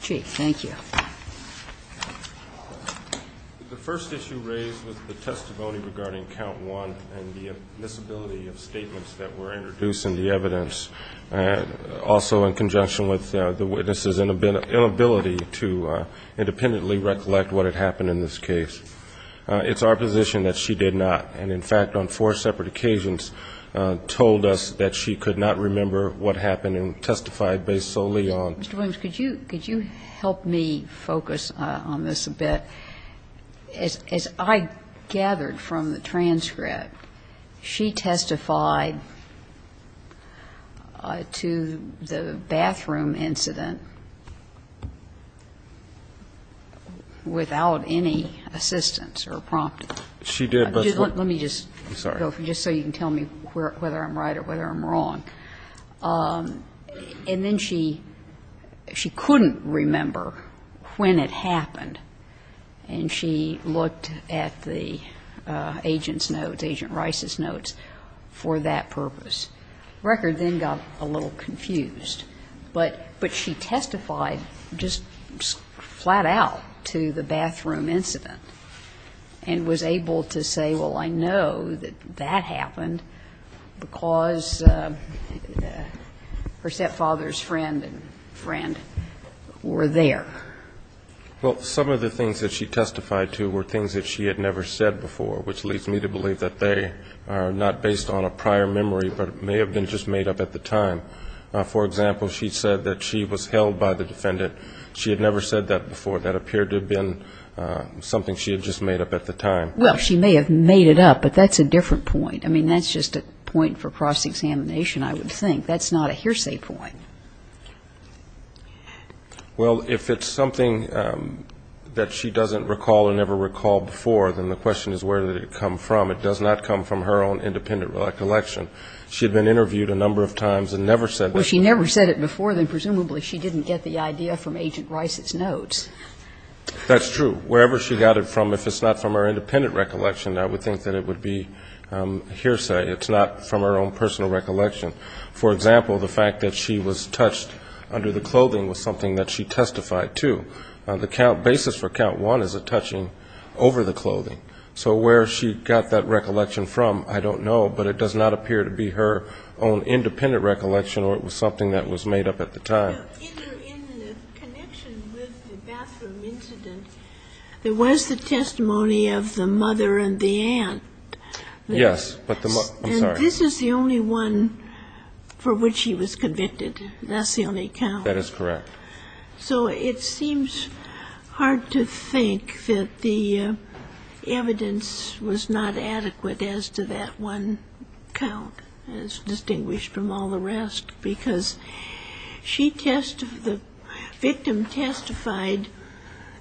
Chee, thank you. The first issue raised was the testimony regarding count 1 and the admissibility of statements that were introduced in the evidence, also in conjunction with the witness's inability to independently recollect what had happened in this case. It's our position that she did not. And in fact, on four separate occasions, told us that she could not remember what happened and testified based solely on. Mr. Williams, could you help me focus on this a bit? As I gathered from the transcript, she testified to the bathroom incident without any assistance or prompting. She did, but let me just, just so you can tell me whether I'm right or whether I'm wrong. And then she couldn't remember when it happened, and she looked at the agent's notes, Agent Rice's notes, for that purpose. The record then got a little confused. But she testified just flat out to the bathroom incident and was able to say, well, I know that that happened because her stepfather's friend and friend were there. Well, some of the things that she testified to were things that she had never said before, which leads me to believe that they are not based on a prior memory, but may have been just made up at the time. For example, she said that she was held by the defendant. She had never said that before. That appeared to have been something she had just made up at the time. Well, she may have made it up, but that's a different point. I mean, that's just a point for cross-examination, I would think. That's not a hearsay point. Well, if it's something that she doesn't recall or never recalled before, then the question is where did it come from. It does not come from her own independent recollection. She had been interviewed a number of times and never said that. Well, she never said it before, then presumably she didn't get the idea from Agent Rice's notes. That's true. Wherever she got it from, if it's not from her independent recollection, I would think that it would be hearsay. It's not from her own personal recollection. For example, the fact that she was touched under the clothing was something that she testified to. The count basis for count one is a touching over the clothing. So where she got that recollection from, I don't know, but it does not appear to be her own independent recollection or it was something that was made up at the time. Now, in the connection with the bathroom incident, there was the testimony of the mother and the aunt. Yes, but the mother... I'm sorry. And this is the only one for which she was convicted. That's the only count. That is correct. So it seems hard to think that the evidence was not adequate as to that one count, as distinguished from all the rest, because she testified... the victim testified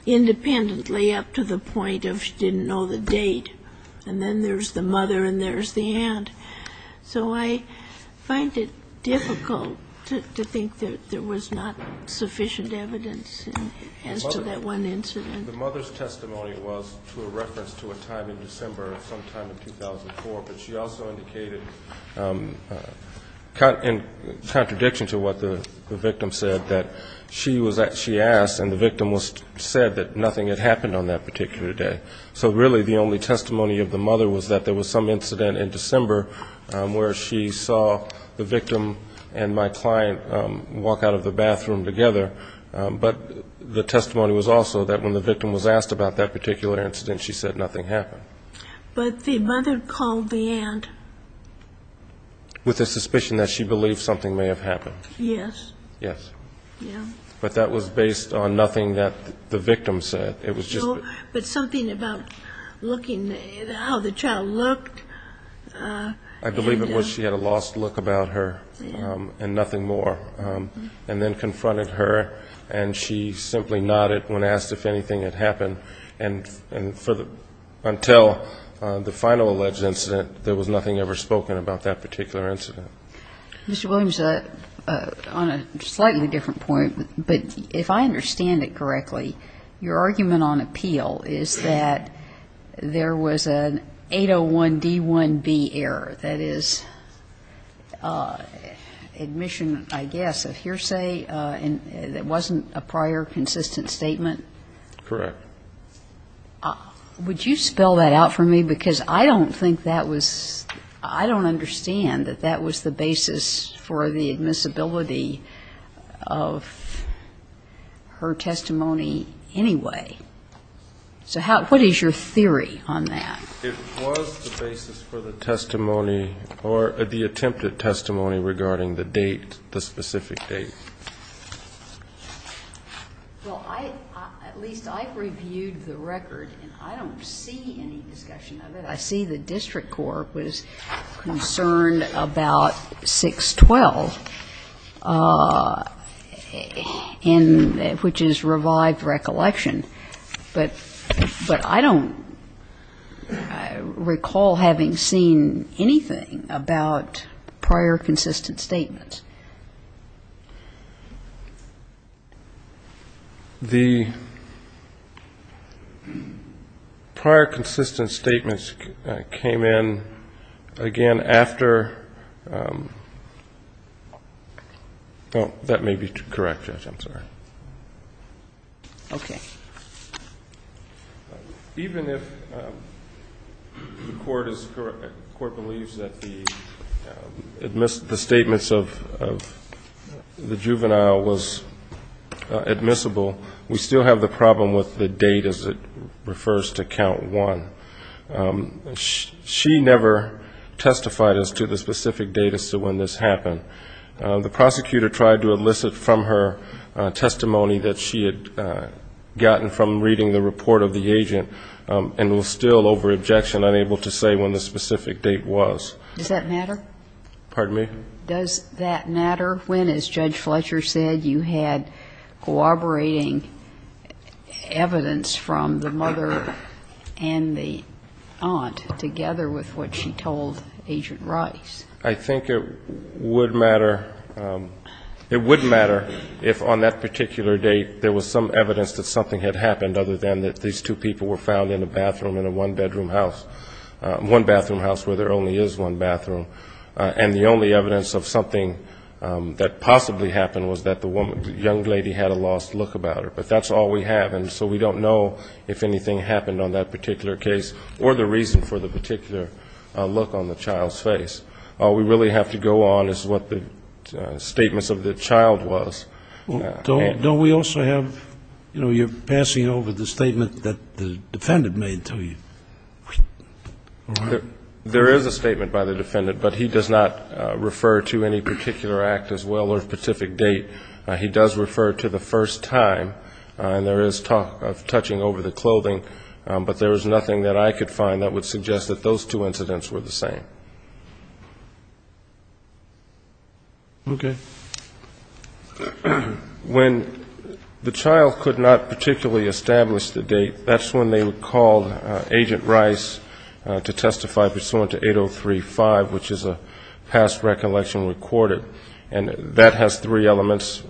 independently up to the point of she didn't know the date. And then there's the mother and there's the aunt. So I find it difficult to think that there was not sufficient evidence as to that one incident. The mother's testimony was to a reference to a time in December of some time in 2004, but she also indicated, in contradiction to what the victim said, that she was at... she asked and the victim said that nothing had happened on that particular day. So really, the only testimony of the mother was that there was some incident in December where she saw the victim and my client walk out of the bathroom together. But the testimony was also that when the victim was asked about that particular incident, she said nothing happened. But the mother called the aunt... With the suspicion that she believed something may have happened. Yes. Yes. Yeah. But that was based on nothing that the victim said. It was just... But something about looking at how the child looked. I believe it was she had a lost look about her and nothing more. And then confronted her and she simply nodded when asked if anything had happened. And for the... until the final alleged incident, there was nothing ever spoken about that particular incident. Mr. Williams, on a slightly different point, but if I understand it correctly, your argument on appeal is that there was an 801 D1B error. That is admission, I guess, of hearsay that wasn't a prior consistent statement? Correct. Would you spell that out for me? Because I don't think that was... I don't understand that that was the basis for the admissibility of her testimony anyway. So what is your theory on that? It was the basis for the testimony or the attempted testimony regarding the date, the specific date. Well, at least I've reviewed the record and I don't see any discussion of it. I see the district court was concerned about 612, which is revived recollection. But I don't recall having seen anything about prior consistent statements. The prior consistent statements came in again after... Oh, that may be correct, Judge. I'm sorry. Okay. Even if the court believes that the statements of the juvenile was admissible, we still have the problem with the date as it refers to count one. She never testified as to the specific date as to when this happened. The prosecutor tried to elicit from her testimony that she had gotten from reading the report of the agent and was still over objection, unable to say when the specific date was. Does that matter? Pardon me? Does that matter when, as Judge Fletcher said, you had cooperating evidence from the mother and the aunt together with what she told Agent Rice? I think it would matter if on that particular date there was some evidence that something had happened other than that these two people were found in a bathroom in a one-bedroom house, one-bathroom house where there only is one bathroom, and the only evidence of something that possibly happened was that the young lady had a lost look about her. But that's all we have, and so we don't know if anything happened on that particular case or the reason for the particular look on the child's face. All we really have to go on is what the statements of the child was. Don't we also have, you know, you're passing over the statement that the defendant made to you. There is a statement by the defendant, but he does not refer to any particular act as well or specific date. He does refer to the first time, and there is talk of touching over the clothing, but there was nothing that I could find that would suggest that those two incidents were the same. Okay. When the child could not particularly establish the date, that's when they would call Agent Rice to testify pursuant to 8035, which is a past recollection recorded, and that has three elements.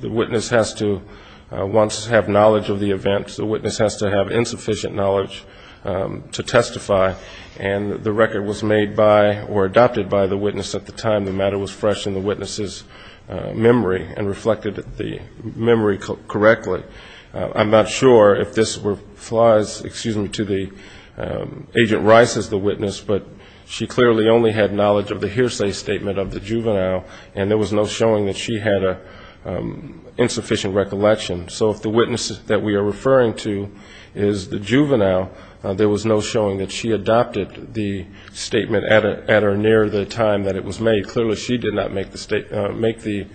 The witness has to once have knowledge of the event, the witness has to have insufficient knowledge to testify, and the record was made by or adopted by the witness at the time the matter was fresh in the witness's memory and reflected the memory correctly. I'm not sure if this applies, excuse me, to the Agent Rice as the witness, but she clearly only had knowledge of the hearsay statement of the juvenile, and there was no showing that she had an insufficient recollection. So if the witness that we are referring to is the juvenile, there was no showing that she adopted the statement at or near the time that it was made. Clearly, she did not make the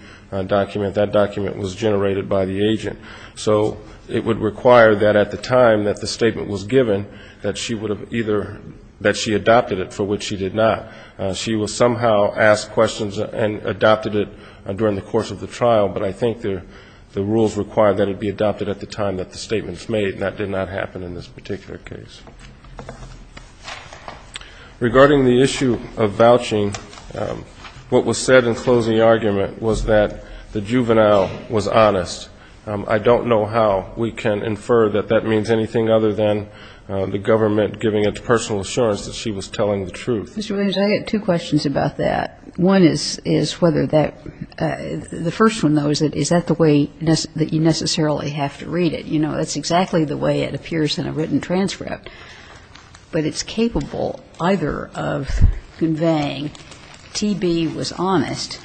document. That document was generated by the agent. So it would require that at the time that the statement was given that she would have either, that she adopted it, for which she did not. She was somehow asked questions and adopted it during the course of the trial, but I think the rules require that it be adopted at the time that the statement was made, and that did not happen in this particular case. Regarding the issue of vouching, what was said in closing the argument was that the juvenile was honest. I don't know how we can infer that that means anything other than the government giving it to personal assurance that she was telling the truth. Mr. Williams, I have two questions about that. One is whether that, the first one, though, is that is that the way that you necessarily have to read it? You know, that's exactly the way it appears in a written transcript. But it's capable either of conveying T.B. was honest,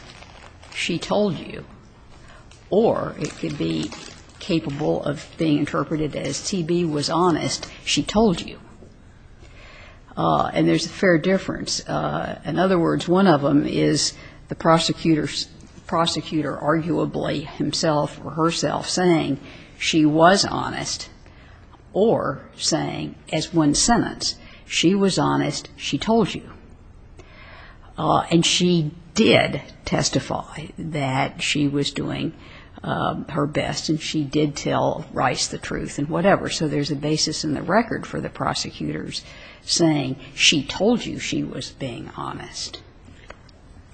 she told you. Or it could be capable of being interpreted as T.B. was honest, she told you. And there's a fair difference. In other words, one of them is the prosecutor's, the prosecutor arguably himself or herself saying she was honest or saying as one sentence, she was honest, she told you. And she did testify that she was doing her best, and she did tell Rice the truth and whatever, so there's a basis in the record for the prosecutors saying she told you she was being honest.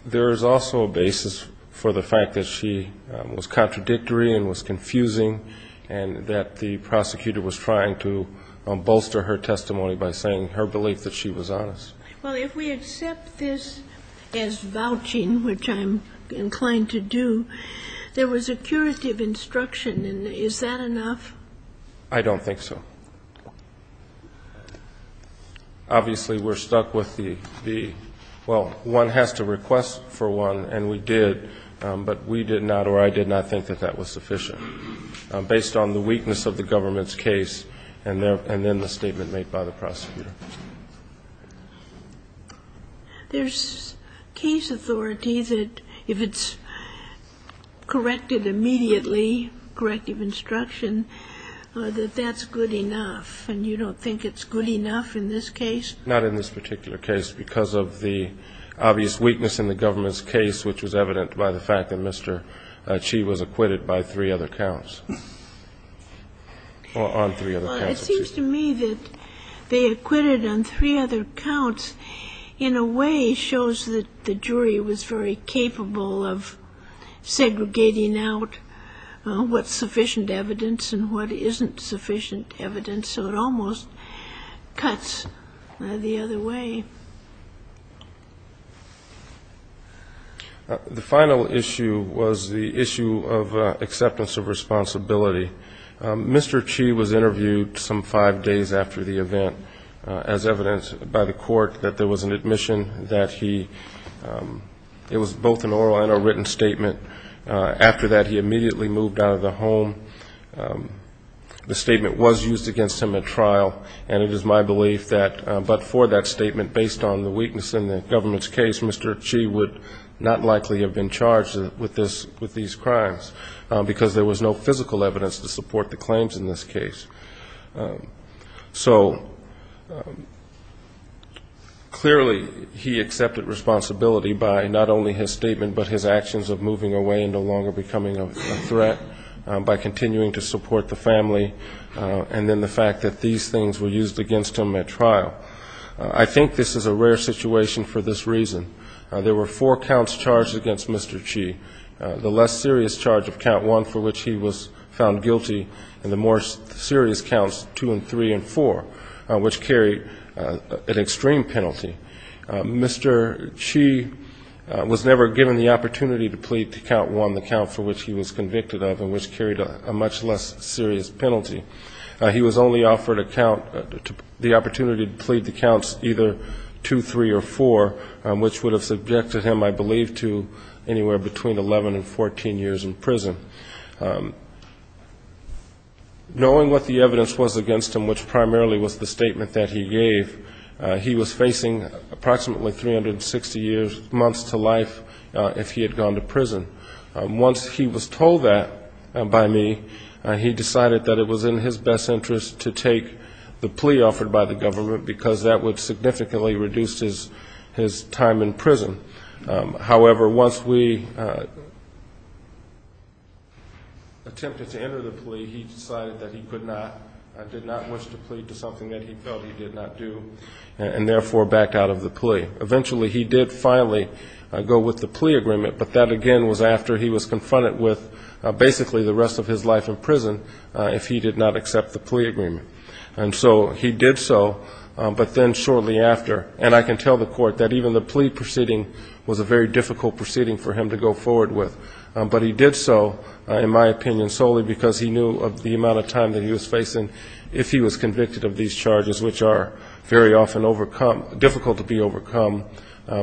There is also a basis for the fact that she was contradictory and was confusing and that the prosecutor was trying to bolster her testimony by saying her belief that she was honest. Well, if we accept this as vouching, which I'm inclined to do, there was a curative instruction, and is that enough? I don't think so. Obviously, we're stuck with the, well, one has to request for one, and we did, but we did not or I did not think that that was sufficient, based on the weakness of the government's case and then the statement made by the prosecutor. There's case authorities that if it's corrected immediately, corrective instruction, that that's good enough, and you don't think it's good enough in this case? Not in this particular case, because of the obvious weakness in the government's case, which was evident by the fact that she was acquitted by three other counts. It seems to me that they acquitted on three other counts, in a way, shows that the jury was very capable of segregating out what's sufficient evidence and what isn't sufficient evidence, so it almost cuts the other way. The final issue was the issue of acceptance of responsibility. Mr. Chi was interviewed some five days after the event, as evidenced by the court, that there was an admission that he, it was both an oral and a written statement. After that, he immediately moved out of the home. The statement was used against him at trial, and it is my belief that, but for that statement, based on the weakness in the government's case, Mr. Chi would not likely have been charged with this, with these crimes, because there was no physical evidence to support the claims in this case. So, clearly, he accepted responsibility by not only his statement, but his actions of moving away and no longer becoming a threat, by continuing to support the family, and then the fact that these things were used against him at trial. I think this is a rare situation for this reason. There were four counts charged against Mr. Chi. The less serious charge of count one, for which he was found guilty, and the more serious counts two and three and four, which carried an extreme penalty. Mr. Chi was never given the opportunity to plead to count one, the count for which he was convicted of, and which carried a much less serious penalty. He was only offered a count, the opportunity to plead to counts either two, three, or four, which would have subjected him, I believe, to anywhere between 11 and 14 years in prison. Knowing what the evidence was against him, which primarily was the statement that he gave, he was facing approximately 360 months to life if he had gone to prison. Once he was told that by me, he decided that it was in his best interest to take the plea offered by the government, because that would significantly reduce his time in prison. However, once we attempted to enter the plea, he decided that he could not, did not wish to plead to something that he felt he did not do, and therefore backed out of the plea. Eventually, he did finally go with the plea agreement, but that again was after he was confronted with basically the rest of his life in prison if he did not accept the plea agreement. And so he did so, but then shortly after, and I can tell the court that even the plea was a very difficult proceeding for him to go forward with. But he did so, in my opinion, solely because he knew of the amount of time that he was facing if he was convicted of these charges, which are very often overcome, difficult to be overcome,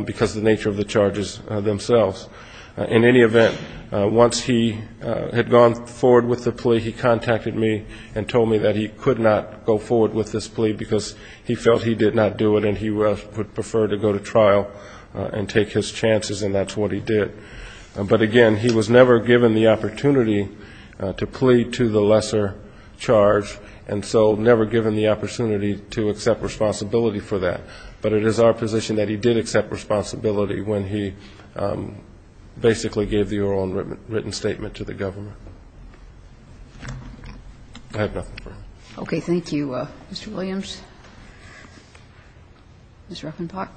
because of the nature of the charges themselves. In any event, once he had gone forward with the plea, he contacted me and told me that he could not go forward with this plea, because he felt he did not do it, and he would prefer to go to trial and take his chances, and that's what he did. But again, he was never given the opportunity to plea to the lesser charge, and so never given the opportunity to accept responsibility for that. But it is our position that he did accept responsibility when he basically gave the oral and written statement to the government. I have nothing further. Okay. Thank you. Mr. Williams. Ms. Ruffenbach.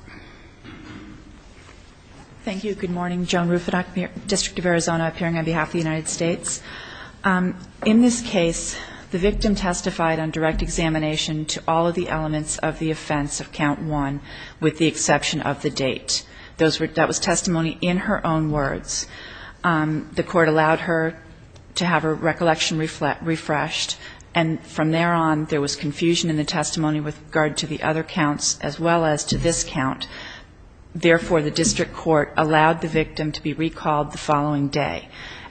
Thank you. Good morning. Joan Ruffenbach, District of Arizona, appearing on behalf of the United States. In this case, the victim testified on direct examination to all of the elements of the offense of Count 1, with the exception of the date. That was testimony in her own words. The court allowed her to have her recollection refreshed, and from there on, there was confusion in the testimony with regard to the other counts, as well as to this count. Therefore, the district court allowed the victim to be recalled the following day.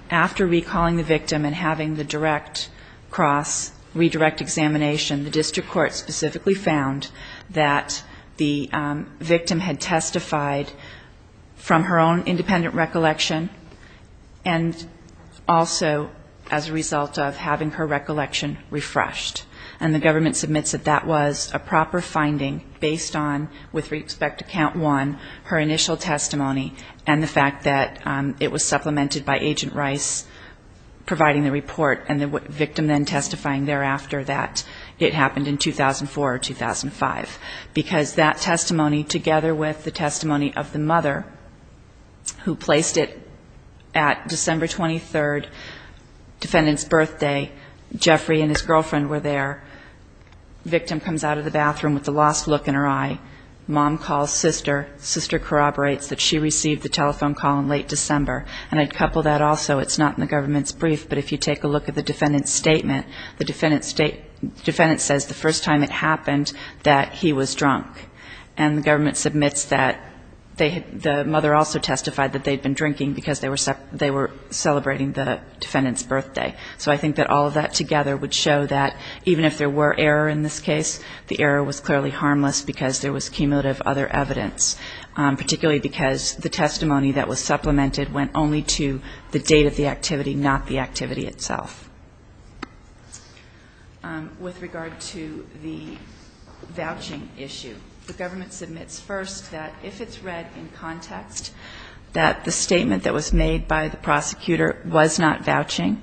After recalling the victim and having the direct cross, redirect examination, the district court specifically found that the victim had testified from her own independent recollection, and also as a result of having her recollection refreshed. And the government submits that that was a proper finding based on, with respect to Count 1, her initial testimony, and the fact that it was supplemented by Agent Rice providing the report, and the victim then testifying thereafter that it happened in 2004 or 2005. Because that testimony, together with the testimony of the mother, who placed it at December 23rd, defendant's birthday, Jeffrey and his girlfriend were there. Victim comes out of the bathroom with a lost look in her eye. Mom calls sister. Sister corroborates that she received the telephone call in late December. And I'd couple that also. It's not in the government's brief, but if you take a look at the defendant's the first time it happened that he was drunk. And the government submits that they had the mother also testified that they had been drinking because they were celebrating the defendant's birthday. So I think that all of that together would show that even if there were error in this case, the error was clearly harmless because there was cumulative other evidence, particularly because the testimony that was supplemented went only to the date of the activity, not the activity itself. With regard to the vouching issue, the government submits first that if it's read in context, that the statement that was made by the prosecutor was not vouching.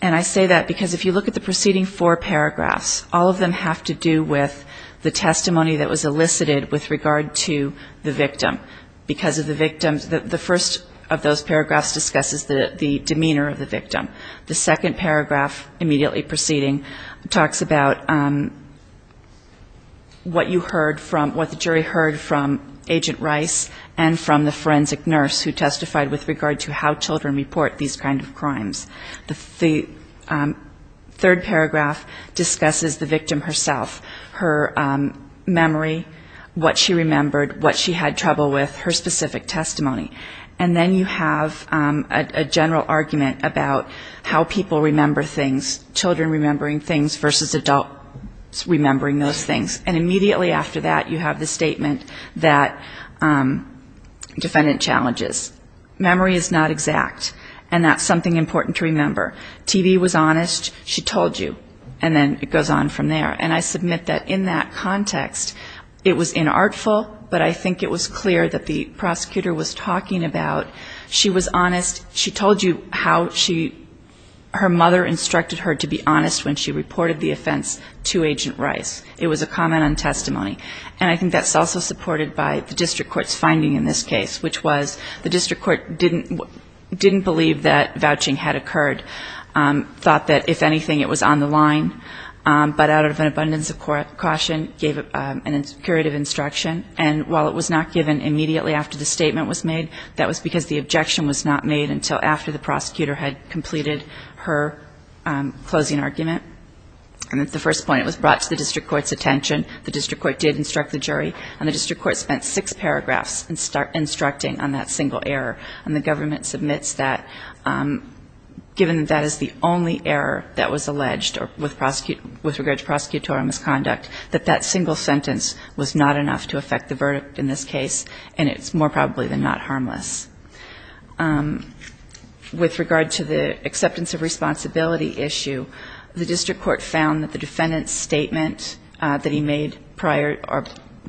And I say that because if you look at the preceding four paragraphs, all of them have to do with the testimony that was elicited with regard to the victim. Because of the victim, the first of those paragraphs discusses the demeanor of the victim. The second paragraph immediately preceding talks about what you heard from, what the jury heard from Agent Rice and from the forensic nurse who testified with regard to how children report these kind of crimes. The third paragraph discusses the victim herself, her memory, what she remembered, what she had trouble with, her specific testimony. And then you have a general argument about how people remember things, children remembering things versus adults remembering those things. And immediately after that, you have the statement that defendant challenges. Memory is not exact, and that's something important to remember. TV was honest. She told you. And then it goes on from there. And I submit that in that context, it was inartful, but I think it was clear that what the prosecutor was talking about, she was honest. She told you how she, her mother instructed her to be honest when she reported the offense to Agent Rice. It was a comment on testimony. And I think that's also supported by the district court's finding in this case, which was the district court didn't believe that vouching had occurred, thought that if anything, it was on the line, but out of an abundance of caution, gave a curative instruction. And while it was not given immediately after the statement was made, that was because the objection was not made until after the prosecutor had completed her closing argument. And at the first point, it was brought to the district court's attention. The district court did instruct the jury, and the district court spent six paragraphs instructing on that single error. And the government submits that, given that that is the only error that was alleged with regard to prosecutorial misconduct, that that single sentence was not enough to affect the verdict in this case, and it's more probably than not harmless. With regard to the acceptance of responsibility issue, the district court found that the defendant's statement that he made prior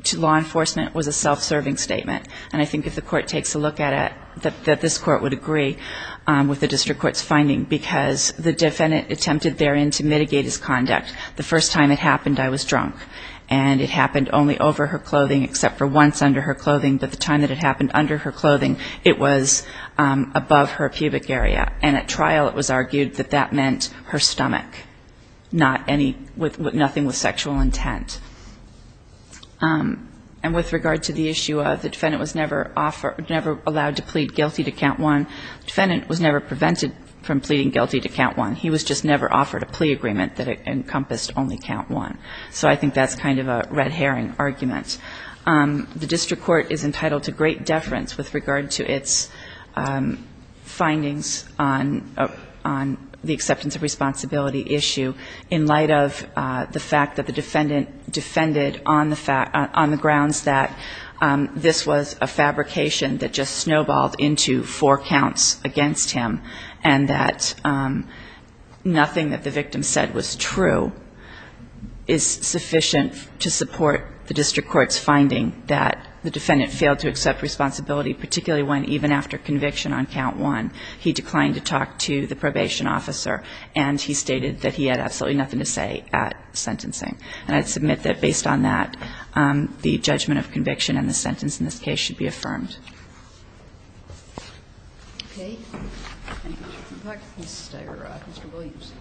to law enforcement was a self-serving statement. And I think if the court takes a look at it, that this court would agree with the district court's finding because the defendant attempted therein to mitigate his conduct. The first time it happened, I was drunk. And it happened only over her clothing, except for once under her clothing. But the time that it happened under her clothing, it was above her pubic area. And at trial, it was argued that that meant her stomach, not any – nothing with sexual intent. And with regard to the issue of the defendant was never offered – never allowed to plead guilty to count one, the defendant was never prevented from pleading guilty to count one. He was just never offered a plea agreement that encompassed only count one. So I think that's kind of a red herring argument. The district court is entitled to great deference with regard to its findings on the acceptance of responsibility issue in light of the fact that the defendant defended on the grounds that this was a fabrication that just snowballed into four counts against him. And that nothing that the victim said was true is sufficient to support the district court's finding that the defendant failed to accept responsibility, particularly when even after conviction on count one, he declined to talk to the probation officer and he stated that he had absolutely nothing to say at sentencing. And I'd submit that based on that, the judgment of conviction and the sentence in this case should be affirmed. Okay. Ms. Steyerrod, Mr. Williams.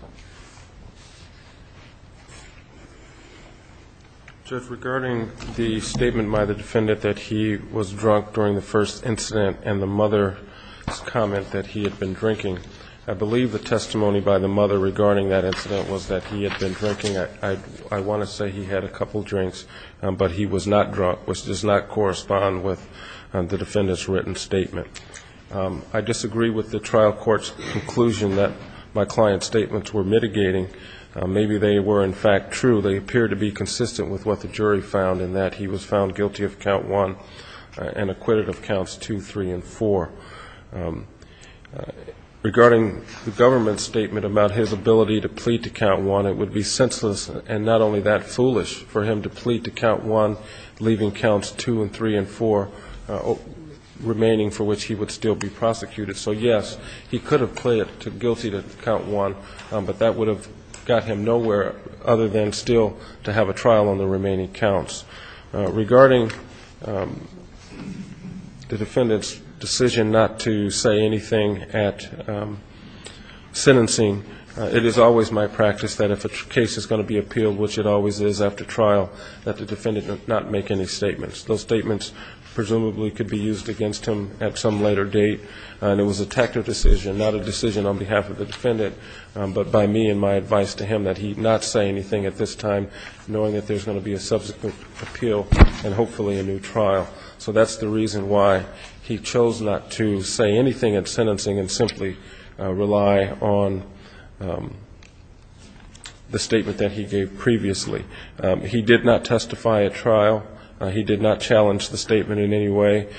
Judge, regarding the statement by the defendant that he was drunk during the first incident and the mother's comment that he had been drinking, I believe the testimony by the mother regarding that incident was that he had been drinking. I want to say he had a couple drinks, but he was not drunk, which does not correspond with the defendant's written statement. I disagree with the trial court's conclusion that my client's statements were mitigating. Maybe they were, in fact, true. They appear to be consistent with what the jury found in that he was found guilty of count one and acquitted of counts two, three, and four. Regarding the government's statement about his ability to plead to count one, it would be senseless and not only that foolish for him to plead to count one, leaving counts two and three and four remaining for which he would still be prosecuted. So, yes, he could have pled guilty to count one, but that would have got him nowhere other than still to have a trial on the remaining counts. Regarding the defendant's decision not to say anything at sentencing, it is always my practice that if a case is going to be appealed, which it always is after trial, that the defendant does not make any statements. Those statements presumably could be used against him at some later date. And it was a tactful decision, not a decision on behalf of the defendant, but by me and my advice to him that he not say anything at this time, knowing that there's going to be a subsequent appeal and hopefully a new trial. So that's the reason why he chose not to say anything at sentencing and simply rely on the statement that he gave previously. He did not testify at trial. He did not challenge the statement in any way.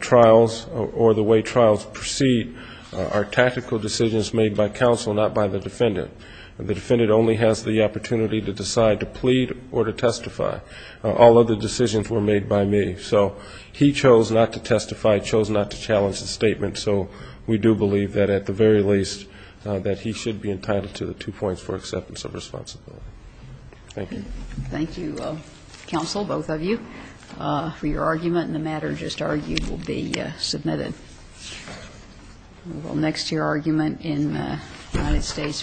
Trials or the way trials proceed are tactical decisions made by counsel, not by the defendant. The defendant only has the opportunity to decide to plead or to testify. All other decisions were made by me. So he chose not to testify, chose not to challenge the statement, so we do believe that at the very least that he should be entitled to the two points for acceptance of responsibility. Thank you. Thank you, counsel, both of you, for your argument. And the matter just argued will be submitted. We'll go next to your argument in United States v. Gonzales.